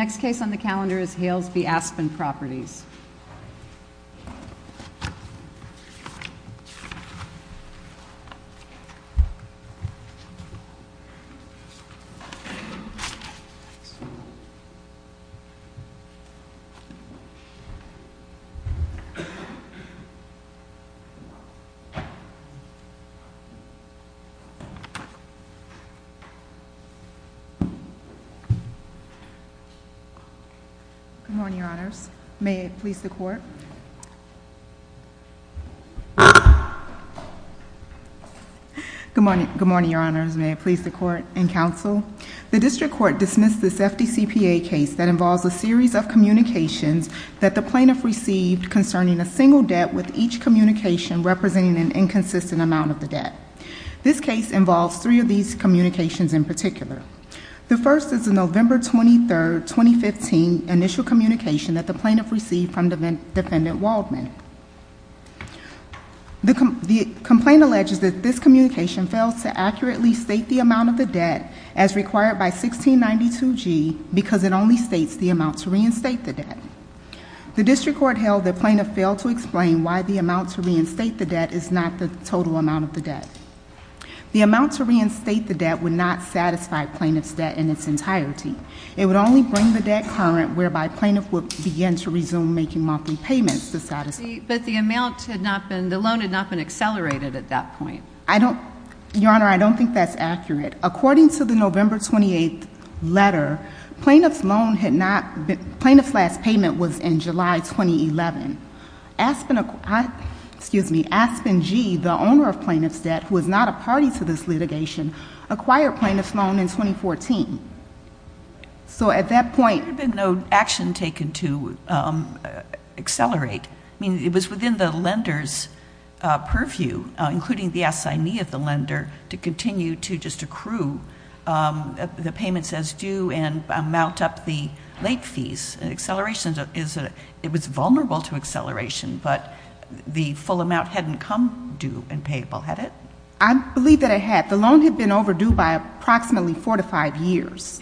Next case on the calendar is Hales v. Aspen Properties. Good morning, Your Honors. May it please the Court. Good morning, Your Honors. May it please the Court and Counsel. The District Court dismissed this FDCPA case that involves a series of communications that the plaintiff received concerning a single debt with each communication representing an inconsistent amount of the debt. This case involves three of these communications in particular. The first is the November 23, 2015, initial communication that the plaintiff received from Defendant Waldman. The complaint alleges that this communication fails to accurately state the amount of the debt as required by 1692G because it only states the amount to reinstate the debt. The District Court held that plaintiff failed to explain why the amount to reinstate the debt is not the total amount of the debt. The amount to reinstate the debt would not satisfy plaintiff's debt in its entirety. It would only bring the debt current whereby plaintiff would begin to resume making monthly payments to satisfy the debt. But the amount had not been, the loan had not been accelerated at that point. I don't, Your Honor, I don't think that's accurate. According to the November 28 letter, plaintiff's loan had not, plaintiff's last payment was in July 2011. Aspen, excuse me, Aspen G., the owner of plaintiff's debt who is not a party to this litigation, acquired plaintiff's loan in 2014. So at that point. There had been no action taken to accelerate. I mean, it was within the lender's purview, including the assignee of the lender, to continue to just accrue the payments as due and mount up the late fees. Acceleration is, it was vulnerable to acceleration, but the full amount hadn't come due and payable, had it? I believe that it had. The loan had been overdue by approximately four to five years.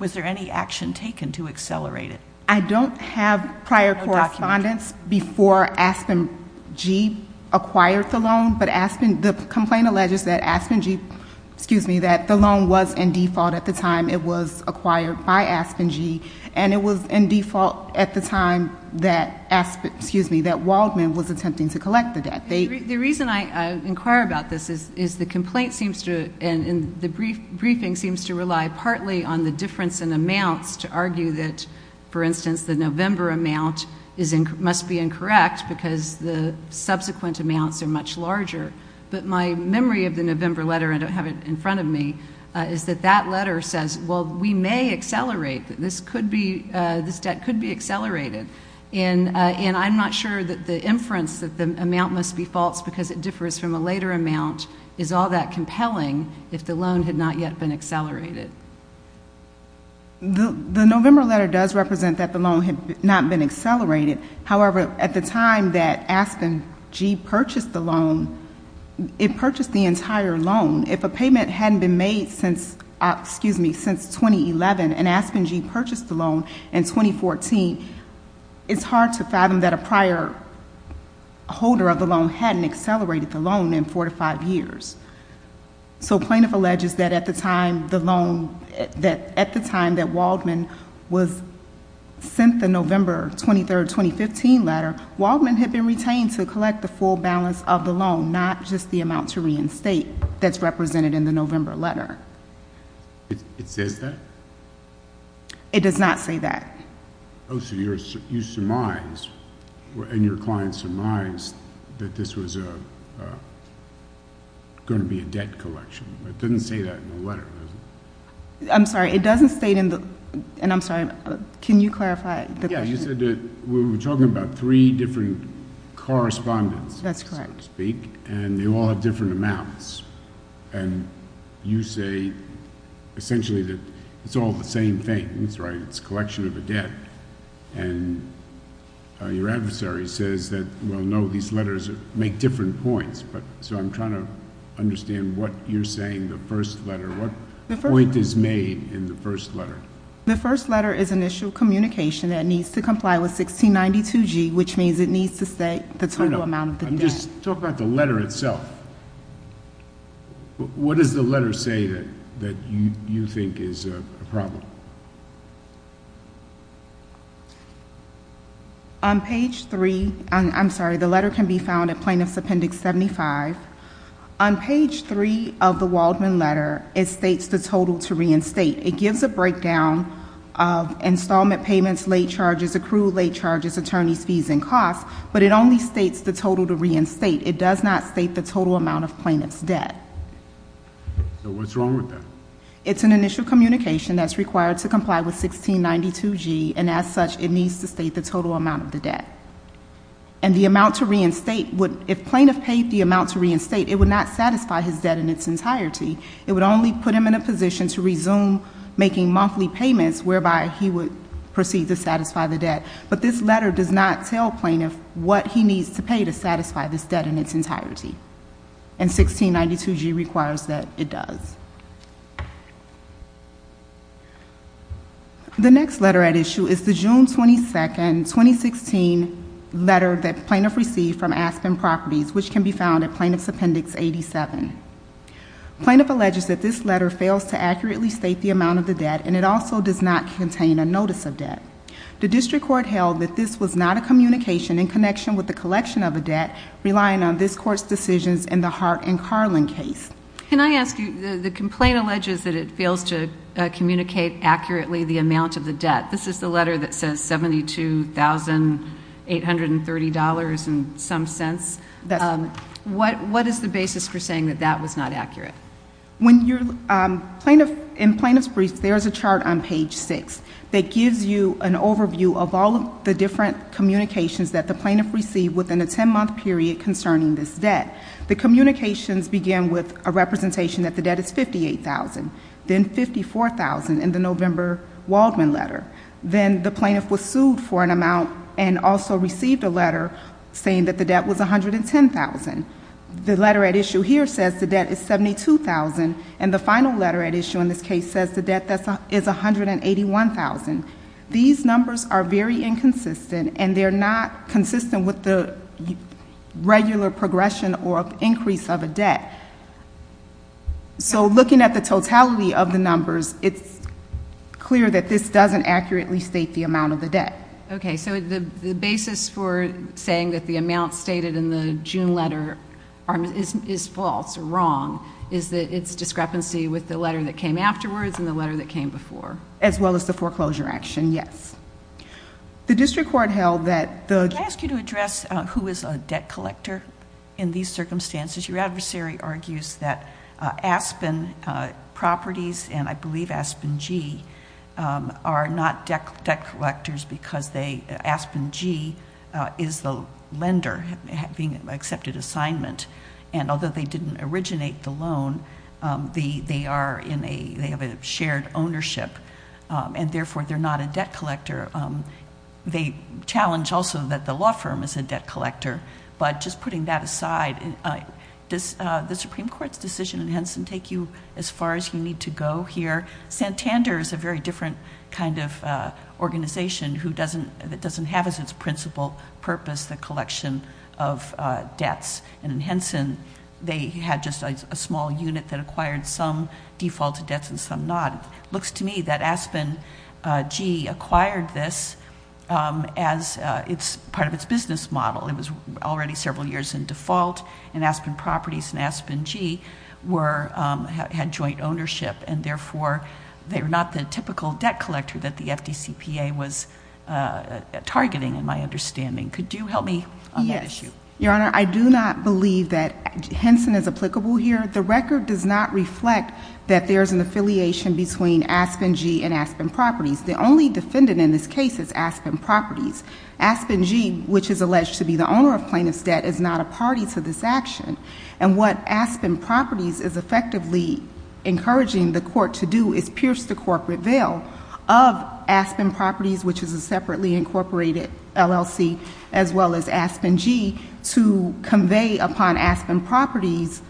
Was there any action taken to accelerate it? I don't have prior correspondence before Aspen G. acquired the loan. But Aspen, the complaint alleges that Aspen G., excuse me, that the loan was in default at the time it was acquired by Aspen G. And it was in default at the time that Aspen, excuse me, that Waldman was attempting to collect the debt. The reason I inquire about this is the complaint seems to, and the briefing seems to rely partly on the difference in amounts to argue that, for instance, the November amount must be incorrect because the subsequent amounts are much larger. But my memory of the November letter, I don't have it in front of me, is that that letter says, well, we may accelerate. This could be, this debt could be accelerated. And I'm not sure that the inference that the amount must be false because it differs from a later amount is all that compelling if the loan had not yet been accelerated. The November letter does represent that the loan had not been accelerated. However, at the time that Aspen G. purchased the loan, it purchased the entire loan. If a payment hadn't been made since, excuse me, since 2011 and Aspen G. purchased the loan in 2014, it's hard to fathom that a prior holder of the loan hadn't accelerated the loan in four to five years. So plaintiff alleges that at the time the loan, that at the time that Waldman was, sent the November 23rd, 2015 letter, Waldman had been retained to collect the full balance of the loan, not just the amount to reinstate that's represented in the November letter. It says that? It does not say that. Oh, so you surmise, and your client surmised, that this was going to be a debt collection. It doesn't say that in the letter, does it? I'm sorry, it doesn't state in the, and I'm sorry, can you clarify the question? Yeah, you said that we were talking about three different correspondents. That's correct. And they all have different amounts. And you say essentially that it's all the same things, right? It's a collection of a debt. And your adversary says that, well, no, these letters make different points. So I'm trying to understand what you're saying, the first letter. What point is made in the first letter? The first letter is an issue of communication that needs to comply with 1692G, which means it needs to state the total amount of the debt. Just talk about the letter itself. What does the letter say that you think is a problem? On page three, I'm sorry, the letter can be found at Plaintiff's Appendix 75. On page three of the Waldman letter, it states the total to reinstate. It gives a breakdown of installment payments, late charges, accrued late charges, attorney's fees, and costs. But it only states the total to reinstate. It does not state the total amount of plaintiff's debt. So what's wrong with that? It's an initial communication that's required to comply with 1692G, and as such, it needs to state the total amount of the debt. And the amount to reinstate would, if plaintiff paid the amount to reinstate, it would not satisfy his debt in its entirety. It would only put him in a position to resume making monthly payments, whereby he would proceed to satisfy the debt. But this letter does not tell plaintiff what he needs to pay to satisfy this debt in its entirety. And 1692G requires that it does. The next letter at issue is the June 22, 2016 letter that plaintiff received from Aspen Properties, which can be found at Plaintiff's Appendix 87. Plaintiff alleges that this letter fails to accurately state the amount of the debt, and it also does not contain a notice of debt. The district court held that this was not a communication in connection with the collection of a debt, relying on this court's decisions in the Hart and Carlin case. Can I ask you, the complaint alleges that it fails to communicate accurately the amount of the debt. This is the letter that says $72,830 and some cents. What is the basis for saying that that was not accurate? In Plaintiff's brief, there is a chart on page 6 that gives you an overview of all of the different communications that the plaintiff received within a 10-month period concerning this debt. The communications began with a representation that the debt is $58,000, then $54,000 in the November Waldman letter. Then the plaintiff was sued for an amount and also received a letter saying that the debt was $110,000. The letter at issue here says the debt is $72,000, and the final letter at issue in this case says the debt is $181,000. These numbers are very inconsistent, and they're not consistent with the regular progression or increase of a debt. So looking at the totality of the numbers, it's clear that this doesn't accurately state the amount of the debt. Okay, so the basis for saying that the amount stated in the June letter is false or wrong is that it's discrepancy with the letter that came afterwards and the letter that came before. As well as the foreclosure action, yes. The district court held that the- Can I ask you to address who is a debt collector in these circumstances? Your adversary argues that Aspen properties, and I believe Aspen G, are not debt collectors because Aspen G is the lender being accepted assignment. And although they didn't originate the loan, they have a shared ownership, and therefore they're not a debt collector. They challenge also that the law firm is a debt collector. But just putting that aside, does the Supreme Court's decision in Henson take you as far as you need to go here? Santander is a very different kind of organization that doesn't have as its principal purpose the collection of debts. And in Henson, they had just a small unit that acquired some defaulted debts and some not. It looks to me that Aspen G acquired this as part of its business model. It was already several years in default, and Aspen properties and Aspen G had joint ownership, and therefore they were not the typical debt collector that the FDCPA was targeting in my understanding. Could you help me on that issue? Your Honor, I do not believe that Henson is applicable here. The record does not reflect that there is an affiliation between Aspen G and Aspen properties. The only defendant in this case is Aspen properties. Aspen G, which is alleged to be the owner of plaintiff's debt, is not a party to this action. And what Aspen properties is effectively encouraging the court to do is pierce the corporate veil of Aspen properties, which is a separately incorporated LLC, as well as Aspen G, to convey upon Aspen properties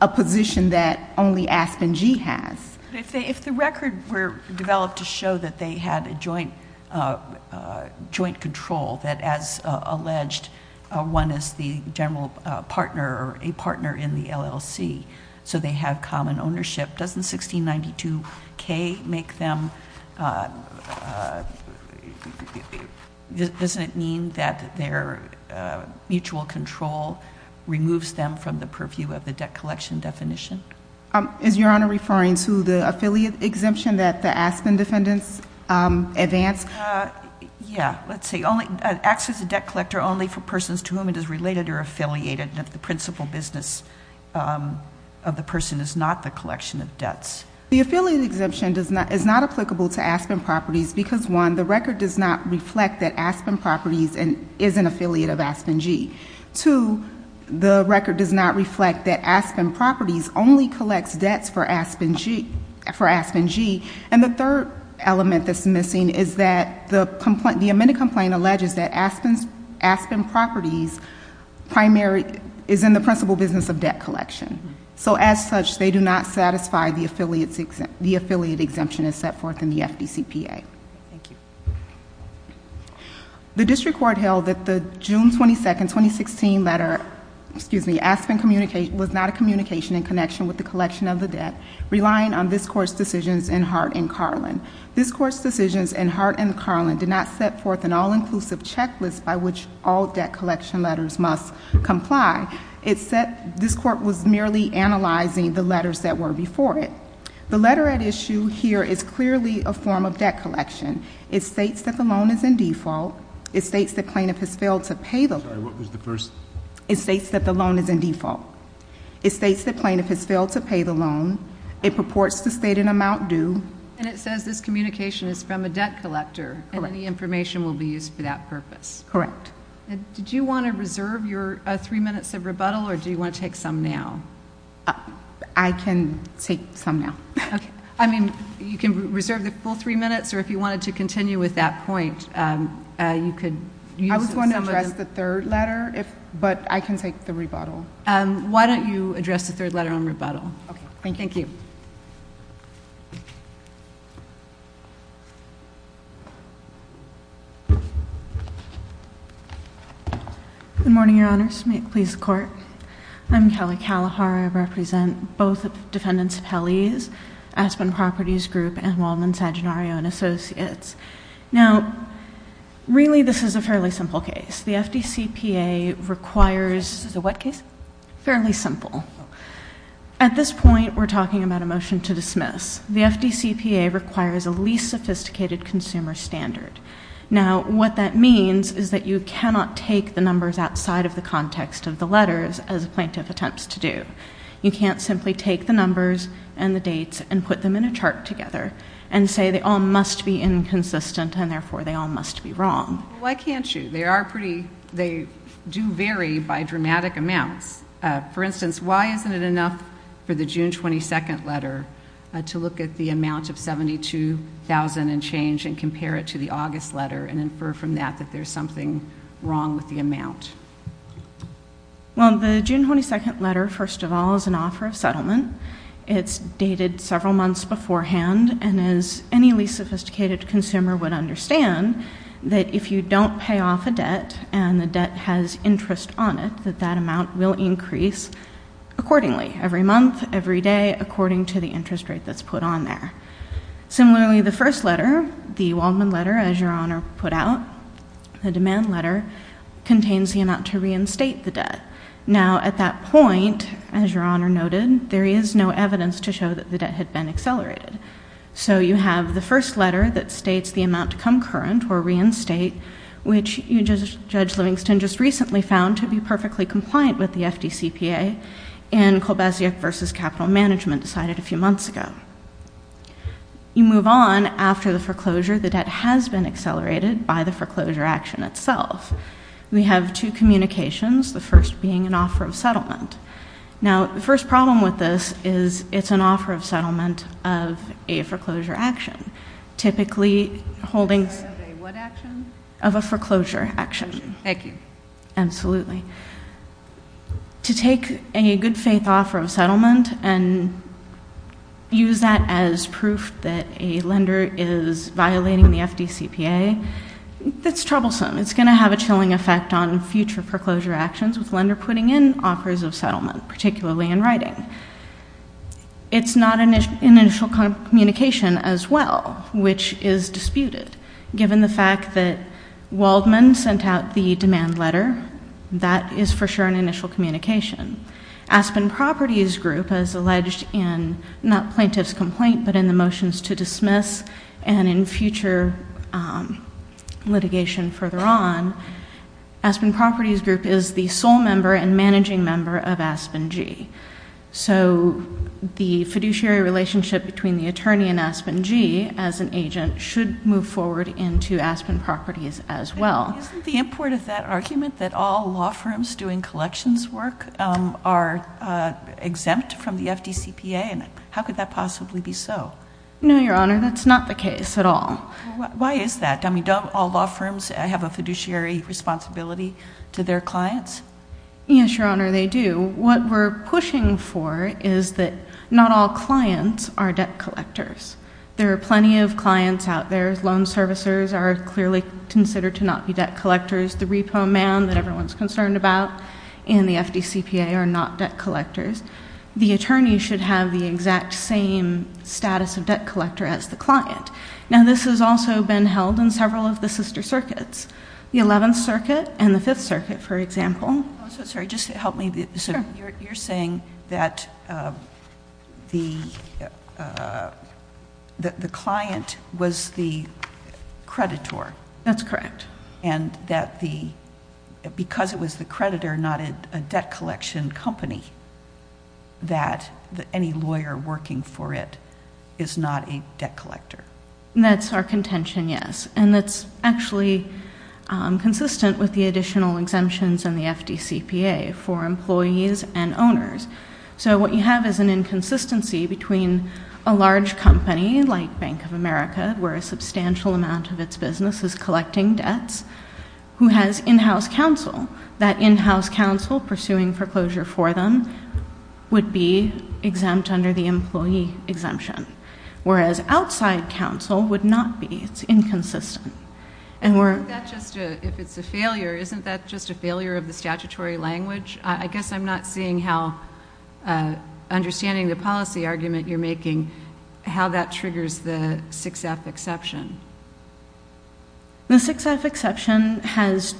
a position that only Aspen G has. If the record were developed to show that they had a joint control, that as alleged, one is the general partner or a partner in the LLC, so they have common ownership, doesn't 1692K make them, doesn't it mean that their mutual control removes them from the purview of the debt collection definition? Is Your Honor referring to the affiliate exemption that the Aspen defendants advanced? Yeah. Let's see. It acts as a debt collector only for persons to whom it is related or affiliated. The principal business of the person is not the collection of debts. The affiliate exemption is not applicable to Aspen properties because, one, the record does not reflect that Aspen properties is an affiliate of Aspen G. Two, the record does not reflect that Aspen properties only collects debts for Aspen G. And the third element that's missing is that the amended complaint alleges that Aspen properties is in the principal business of debt collection. So as such, they do not satisfy the affiliate exemption as set forth in the FDCPA. Thank you. The district court held that the June 22, 2016 letter, Aspen was not a communication in connection with the collection of the debt, relying on this court's decisions in Hart and Carlin. This court's decisions in Hart and Carlin did not set forth an all-inclusive checklist by which all debt collection letters must comply. It said this court was merely analyzing the letters that were before it. The letter at issue here is clearly a form of debt collection. It states that the loan is in default. It states the plaintiff has failed to pay the loan. Sorry, what was the first? It states that the loan is in default. It states the plaintiff has failed to pay the loan. It purports to state an amount due. And it says this communication is from a debt collector. Correct. And any information will be used for that purpose. Correct. Did you want to reserve your three minutes of rebuttal, or do you want to take some now? I can take some now. Okay. I mean, you can reserve the full three minutes, or if you wanted to continue with that point, you could use some of them. I was going to address the third letter, but I can take the rebuttal. Why don't you address the third letter on rebuttal? Okay. Thank you. Thank you. Good morning, Your Honors. May it please the Court? I'm Kelly Kalahar. I represent both defendants' appellees, Aspen Properties Group and Waldman-Saginario & Associates. Now, really, this is a fairly simple case. The FDCPA requires... This is a what case? Fairly simple. At this point, we're talking about a motion to dismiss. The FDCPA requires a least sophisticated consumer standard. Now, what that means is that you cannot take the numbers outside of the context of the letters, as a plaintiff attempts to do. You can't simply take the numbers and the dates and put them in a chart together and say they all must be inconsistent, and, therefore, they all must be wrong. Why can't you? They do vary by dramatic amounts. For instance, why isn't it enough for the June 22nd letter to look at the amount of $72,000 and change and compare it to the August letter and infer from that that there's something wrong with the amount? Well, the June 22nd letter, first of all, is an offer of settlement. It's dated several months beforehand. And as any least sophisticated consumer would understand, that if you don't pay off a debt and the debt has interest on it, that that amount will increase accordingly, every month, every day, according to the interest rate that's put on there. Similarly, the first letter, the Waldman letter, as Your Honor put out, the demand letter, contains the amount to reinstate the debt. Now, at that point, as Your Honor noted, there is no evidence to show that the debt had been accelerated. So you have the first letter that states the amount to come current or reinstate, which Judge Livingston just recently found to be perfectly compliant with the FDCPA, and Kolbasiuk v. Capital Management decided a few months ago. You move on. After the foreclosure, the debt has been accelerated by the foreclosure action itself. We have two communications, the first being an offer of settlement. Now, the first problem with this is it's an offer of settlement of a foreclosure action, typically holding- Of a what action? Of a foreclosure action. Thank you. Absolutely. To take a good faith offer of settlement and use that as proof that a lender is violating the FDCPA, that's troublesome. It's going to have a chilling effect on future foreclosure actions with lender putting in offers of settlement, particularly in writing. It's not an initial communication as well, which is disputed. Given the fact that Waldman sent out the demand letter, that is for sure an initial communication. Aspen Properties Group, as alleged in not plaintiff's complaint, but in the motions to dismiss and in future litigation further on, Aspen Properties Group is the sole member and managing member of Aspen G. So the fiduciary relationship between the attorney and Aspen G as an agent should move forward into Aspen Properties as well. Isn't the import of that argument that all law firms doing collections work are exempt from the FDCPA? How could that possibly be so? No, Your Honor, that's not the case at all. Why is that? Don't all law firms have a fiduciary responsibility to their clients? Yes, Your Honor, they do. What we're pushing for is that not all clients are debt collectors. There are plenty of clients out there. Loan servicers are clearly considered to not be debt collectors. The repo man that everyone's concerned about in the FDCPA are not debt collectors. The attorney should have the exact same status of debt collector as the client. Now, this has also been held in several of the sister circuits, the Eleventh Circuit and the Fifth Circuit, for example. You're saying that the client was the creditor. That's correct. And that because it was the creditor, not a debt collection company, that any lawyer working for it is not a debt collector. That's our contention, yes. And that's actually consistent with the additional exemptions in the FDCPA for employees and owners. So what you have is an inconsistency between a large company like Bank of America, where a substantial amount of its business is collecting debts, who has in-house counsel. That in-house counsel pursuing foreclosure for them would be exempt under the employee exemption, whereas outside counsel would not be. It's inconsistent. If it's a failure, isn't that just a failure of the statutory language? I guess I'm not seeing how, understanding the policy argument you're making, how that triggers the 6F exception. The 6F exception has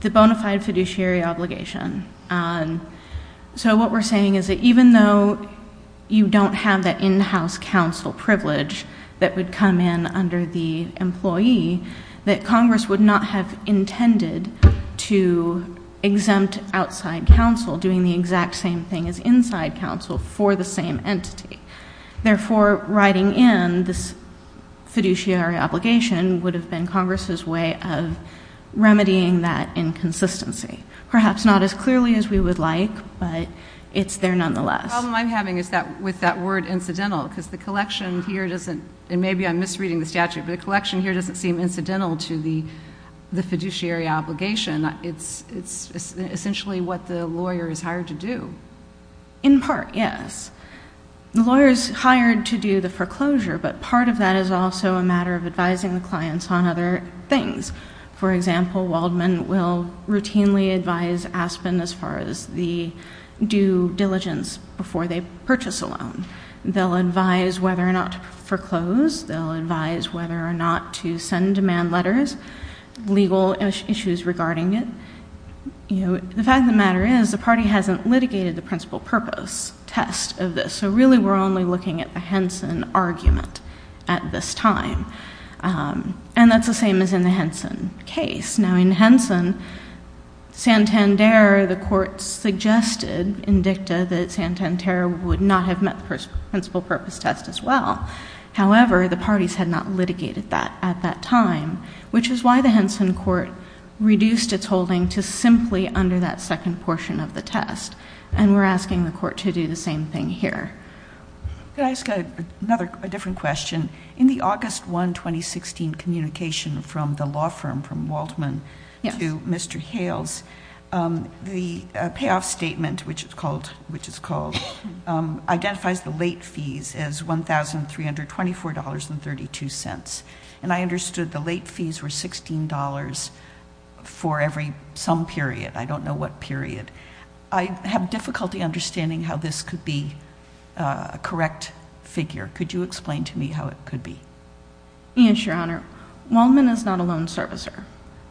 the bona fide fiduciary obligation. So what we're saying is that even though you don't have that in-house counsel privilege that would come in under the employee, that Congress would not have intended to exempt outside counsel doing the exact same thing as inside counsel for the same entity. Therefore, writing in this fiduciary obligation would have been Congress's way of remedying that inconsistency. Perhaps not as clearly as we would like, but it's there nonetheless. The problem I'm having is with that word, incidental, because the collection here doesn't, and maybe I'm misreading the statute, but the collection here doesn't seem incidental to the fiduciary obligation. It's essentially what the lawyer is hired to do. In part, yes. The lawyer is hired to do the foreclosure, but part of that is also a matter of advising the clients on other things. For example, Waldman will routinely advise Aspen as far as the due diligence before they purchase a loan. They'll advise whether or not to foreclose. They'll advise whether or not to send demand letters, legal issues regarding it. The fact of the matter is the party hasn't litigated the principal purpose test of this, so really we're only looking at the Henson argument at this time. And that's the same as in the Henson case. Now, in Henson, Santander, the court suggested in dicta that Santander would not have met the principal purpose test as well. However, the parties had not litigated that at that time, which is why the Henson court reduced its holding to simply under that second portion of the test, and we're asking the court to do the same thing here. Can I ask another different question? In the August 1, 2016, communication from the law firm, from Waldman to Mr. Hales, the payoff statement, which it's called, identifies the late fees as $1,324.32, and I understood the late fees were $16 for every some period. I don't know what period. I have difficulty understanding how this could be a correct figure. Could you explain to me how it could be? Yes, Your Honor. Waldman is not a loan servicer,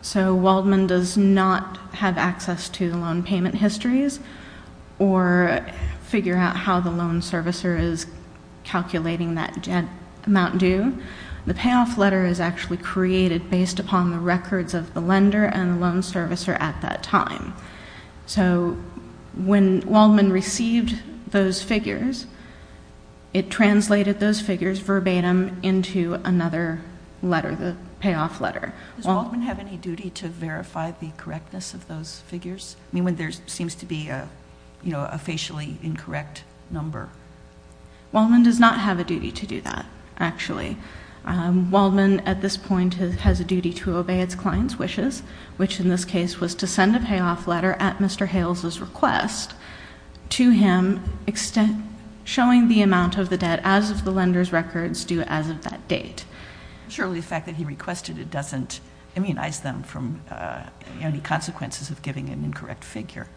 so Waldman does not have access to the loan payment histories or figure out how the loan servicer is calculating that amount due. The payoff letter is actually created based upon the records of the lender and the loan servicer at that time. So when Waldman received those figures, it translated those figures verbatim into another letter, the payoff letter. Does Waldman have any duty to verify the correctness of those figures? I mean, when there seems to be a facially incorrect number. Waldman does not have a duty to do that, actually. Waldman, at this point, has a duty to obey its client's wishes, which in this case was to send a payoff letter at Mr. Hales's request to him, showing the amount of the debt as of the lender's records due as of that date. Surely the fact that he requested it doesn't immunize them from any consequences of giving an incorrect figure.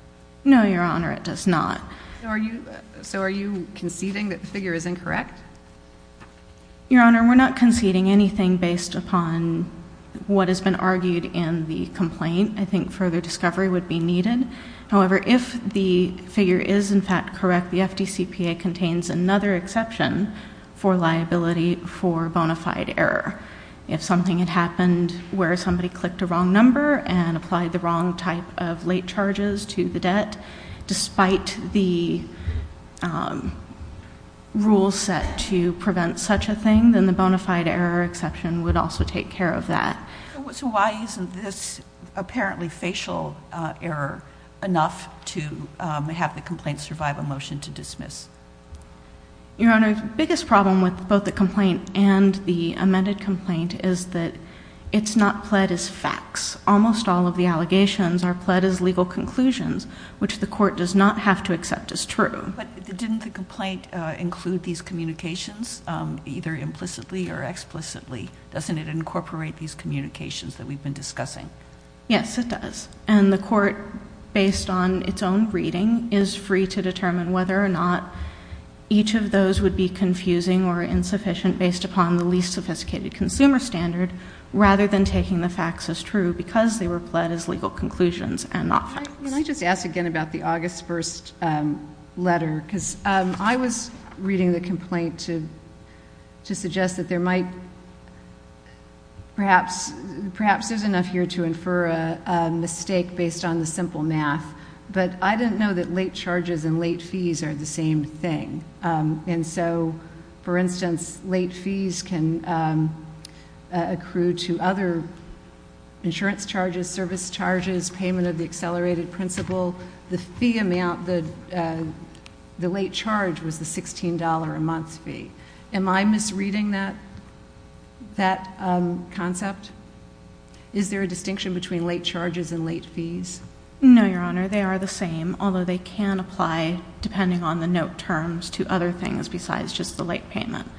No, Your Honor, it does not. Your Honor, we're not conceding anything based upon what has been argued in the complaint. I think further discovery would be needed. However, if the figure is in fact correct, the FDCPA contains another exception for liability for bona fide error. If something had happened where somebody clicked a wrong number and applied the wrong type of late charges to the debt, despite the rules set to prevent such a thing, then the bona fide error exception would also take care of that. So why isn't this apparently facial error enough to have the complaint survive a motion to dismiss? Your Honor, the biggest problem with both the complaint and the amended complaint is that it's not pled as facts. Almost all of the allegations are pled as legal conclusions, which the court does not have to accept as true. But didn't the complaint include these communications, either implicitly or explicitly? Doesn't it incorporate these communications that we've been discussing? Yes, it does. And the court, based on its own reading, is free to determine whether or not each of those would be confusing or insufficient based upon the least sophisticated consumer standard, rather than taking the facts as true, because they were pled as legal conclusions and not facts. Can I just ask again about the August 1st letter? Because I was reading the complaint to suggest that there might perhaps there's enough here to infer a mistake based on the simple math, but I didn't know that late charges and late fees are the same thing. And so, for instance, late fees can accrue to other insurance charges, service charges, payment of the accelerated principal. The fee amount, the late charge was the $16 a month fee. Am I misreading that concept? Is there a distinction between late charges and late fees? No, Your Honor. They are the same, although they can apply, depending on the note terms, to other things besides just the late payment.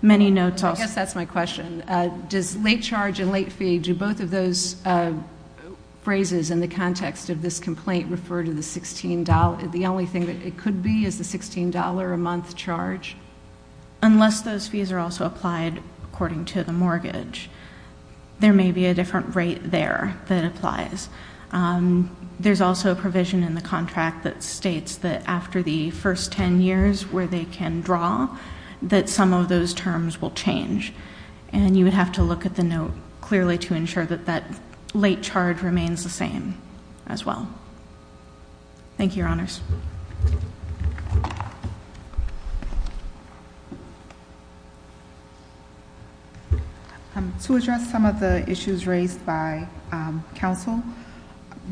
Many notes also- I guess that's my question. Does late charge and late fee, do both of those phrases in the context of this complaint refer to the $16? The only thing that it could be is the $16 a month charge? Unless those fees are also applied according to the mortgage, there may be a different rate there that applies. There's also a provision in the contract that states that after the first ten years where they can draw, that some of those terms will change. And you would have to look at the note clearly to ensure that that late charge remains the same as well. Thank you, Your Honors. To address some of the issues raised by counsel,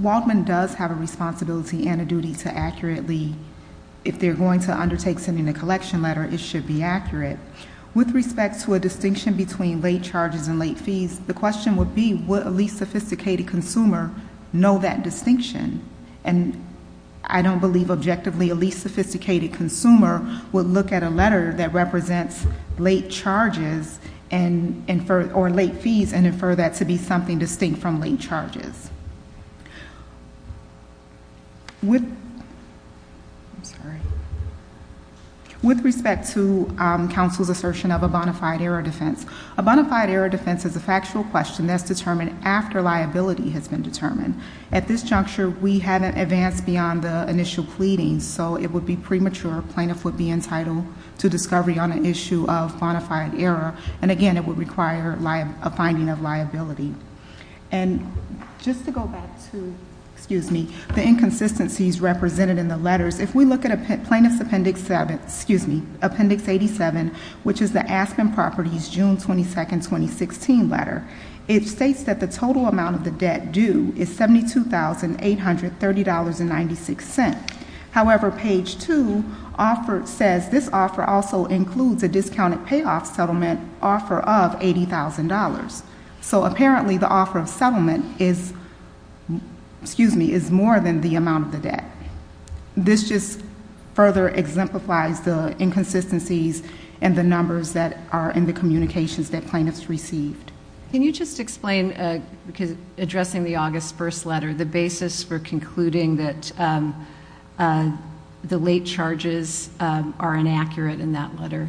Waldman does have a responsibility and a duty to accurately, if they're going to undertake sending a collection letter, it should be accurate. With respect to a distinction between late charges and late fees, the question would be would a least sophisticated consumer know that distinction? I don't believe objectively a least sophisticated consumer would look at a letter that represents late charges or late fees and infer that to be something distinct from late charges. With respect to counsel's assertion of a bona fide error defense, a bona fide error defense is a factual question that's determined after liability has been determined. At this juncture, we haven't advanced beyond the initial pleadings, so it would be premature. Plaintiff would be entitled to discovery on an issue of bona fide error. And again, it would require a finding of liability. And just to go back to the inconsistencies represented in the letters, if we look at Plaintiff's Appendix 87, which is the Aspen Properties June 22, 2016 letter, it states that the total amount of the debt due is $72,830.96. However, page 2 says this offer also includes a discounted payoff settlement offer of $80,000. So apparently the offer of settlement is more than the amount of the debt. This just further exemplifies the inconsistencies and the numbers that are in the communications that plaintiffs received. Can you just explain, addressing the August 1st letter, the basis for concluding that the late charges are inaccurate in that letter?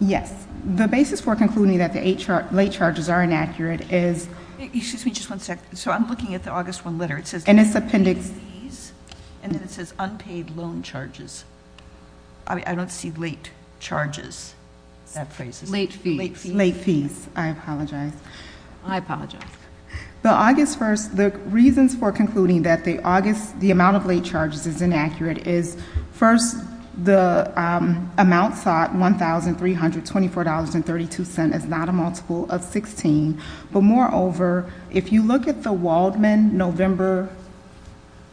Yes. The basis for concluding that the late charges are inaccurate is... Excuse me just one second. So I'm looking at the August 1 letter. And it's appendix... And it says unpaid loan charges. I don't see late charges. Late fees. Late fees. I apologize. I apologize. The August 1st, the reasons for concluding that the amount of late charges is inaccurate is, first, the amount sought, $1,324.32, is not a multiple of 16. But moreover, if you look at the Waldman November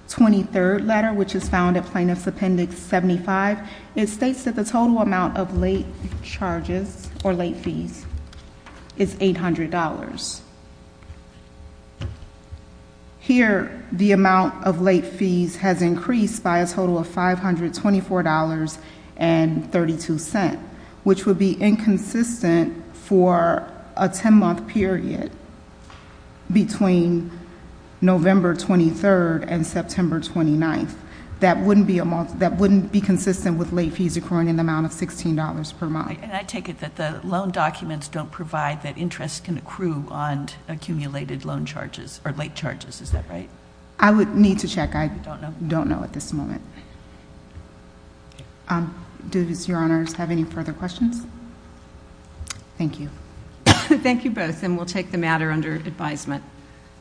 23rd letter, which is found at Plaintiff's Appendix 75, it states that the total amount of late charges or late fees is $800. Here, the amount of late fees has increased by a total of $524.32, which would be inconsistent for a 10-month period between November 23rd and September 29th. That wouldn't be consistent with late fees accruing in the amount of $16 per month. And I take it that the loan documents don't provide that interest can accrue on accumulated loan charges or late charges. Is that right? I would need to check. I don't know at this moment. Does Your Honors have any further questions? Thank you. Thank you both, and we'll take the matter under advisement.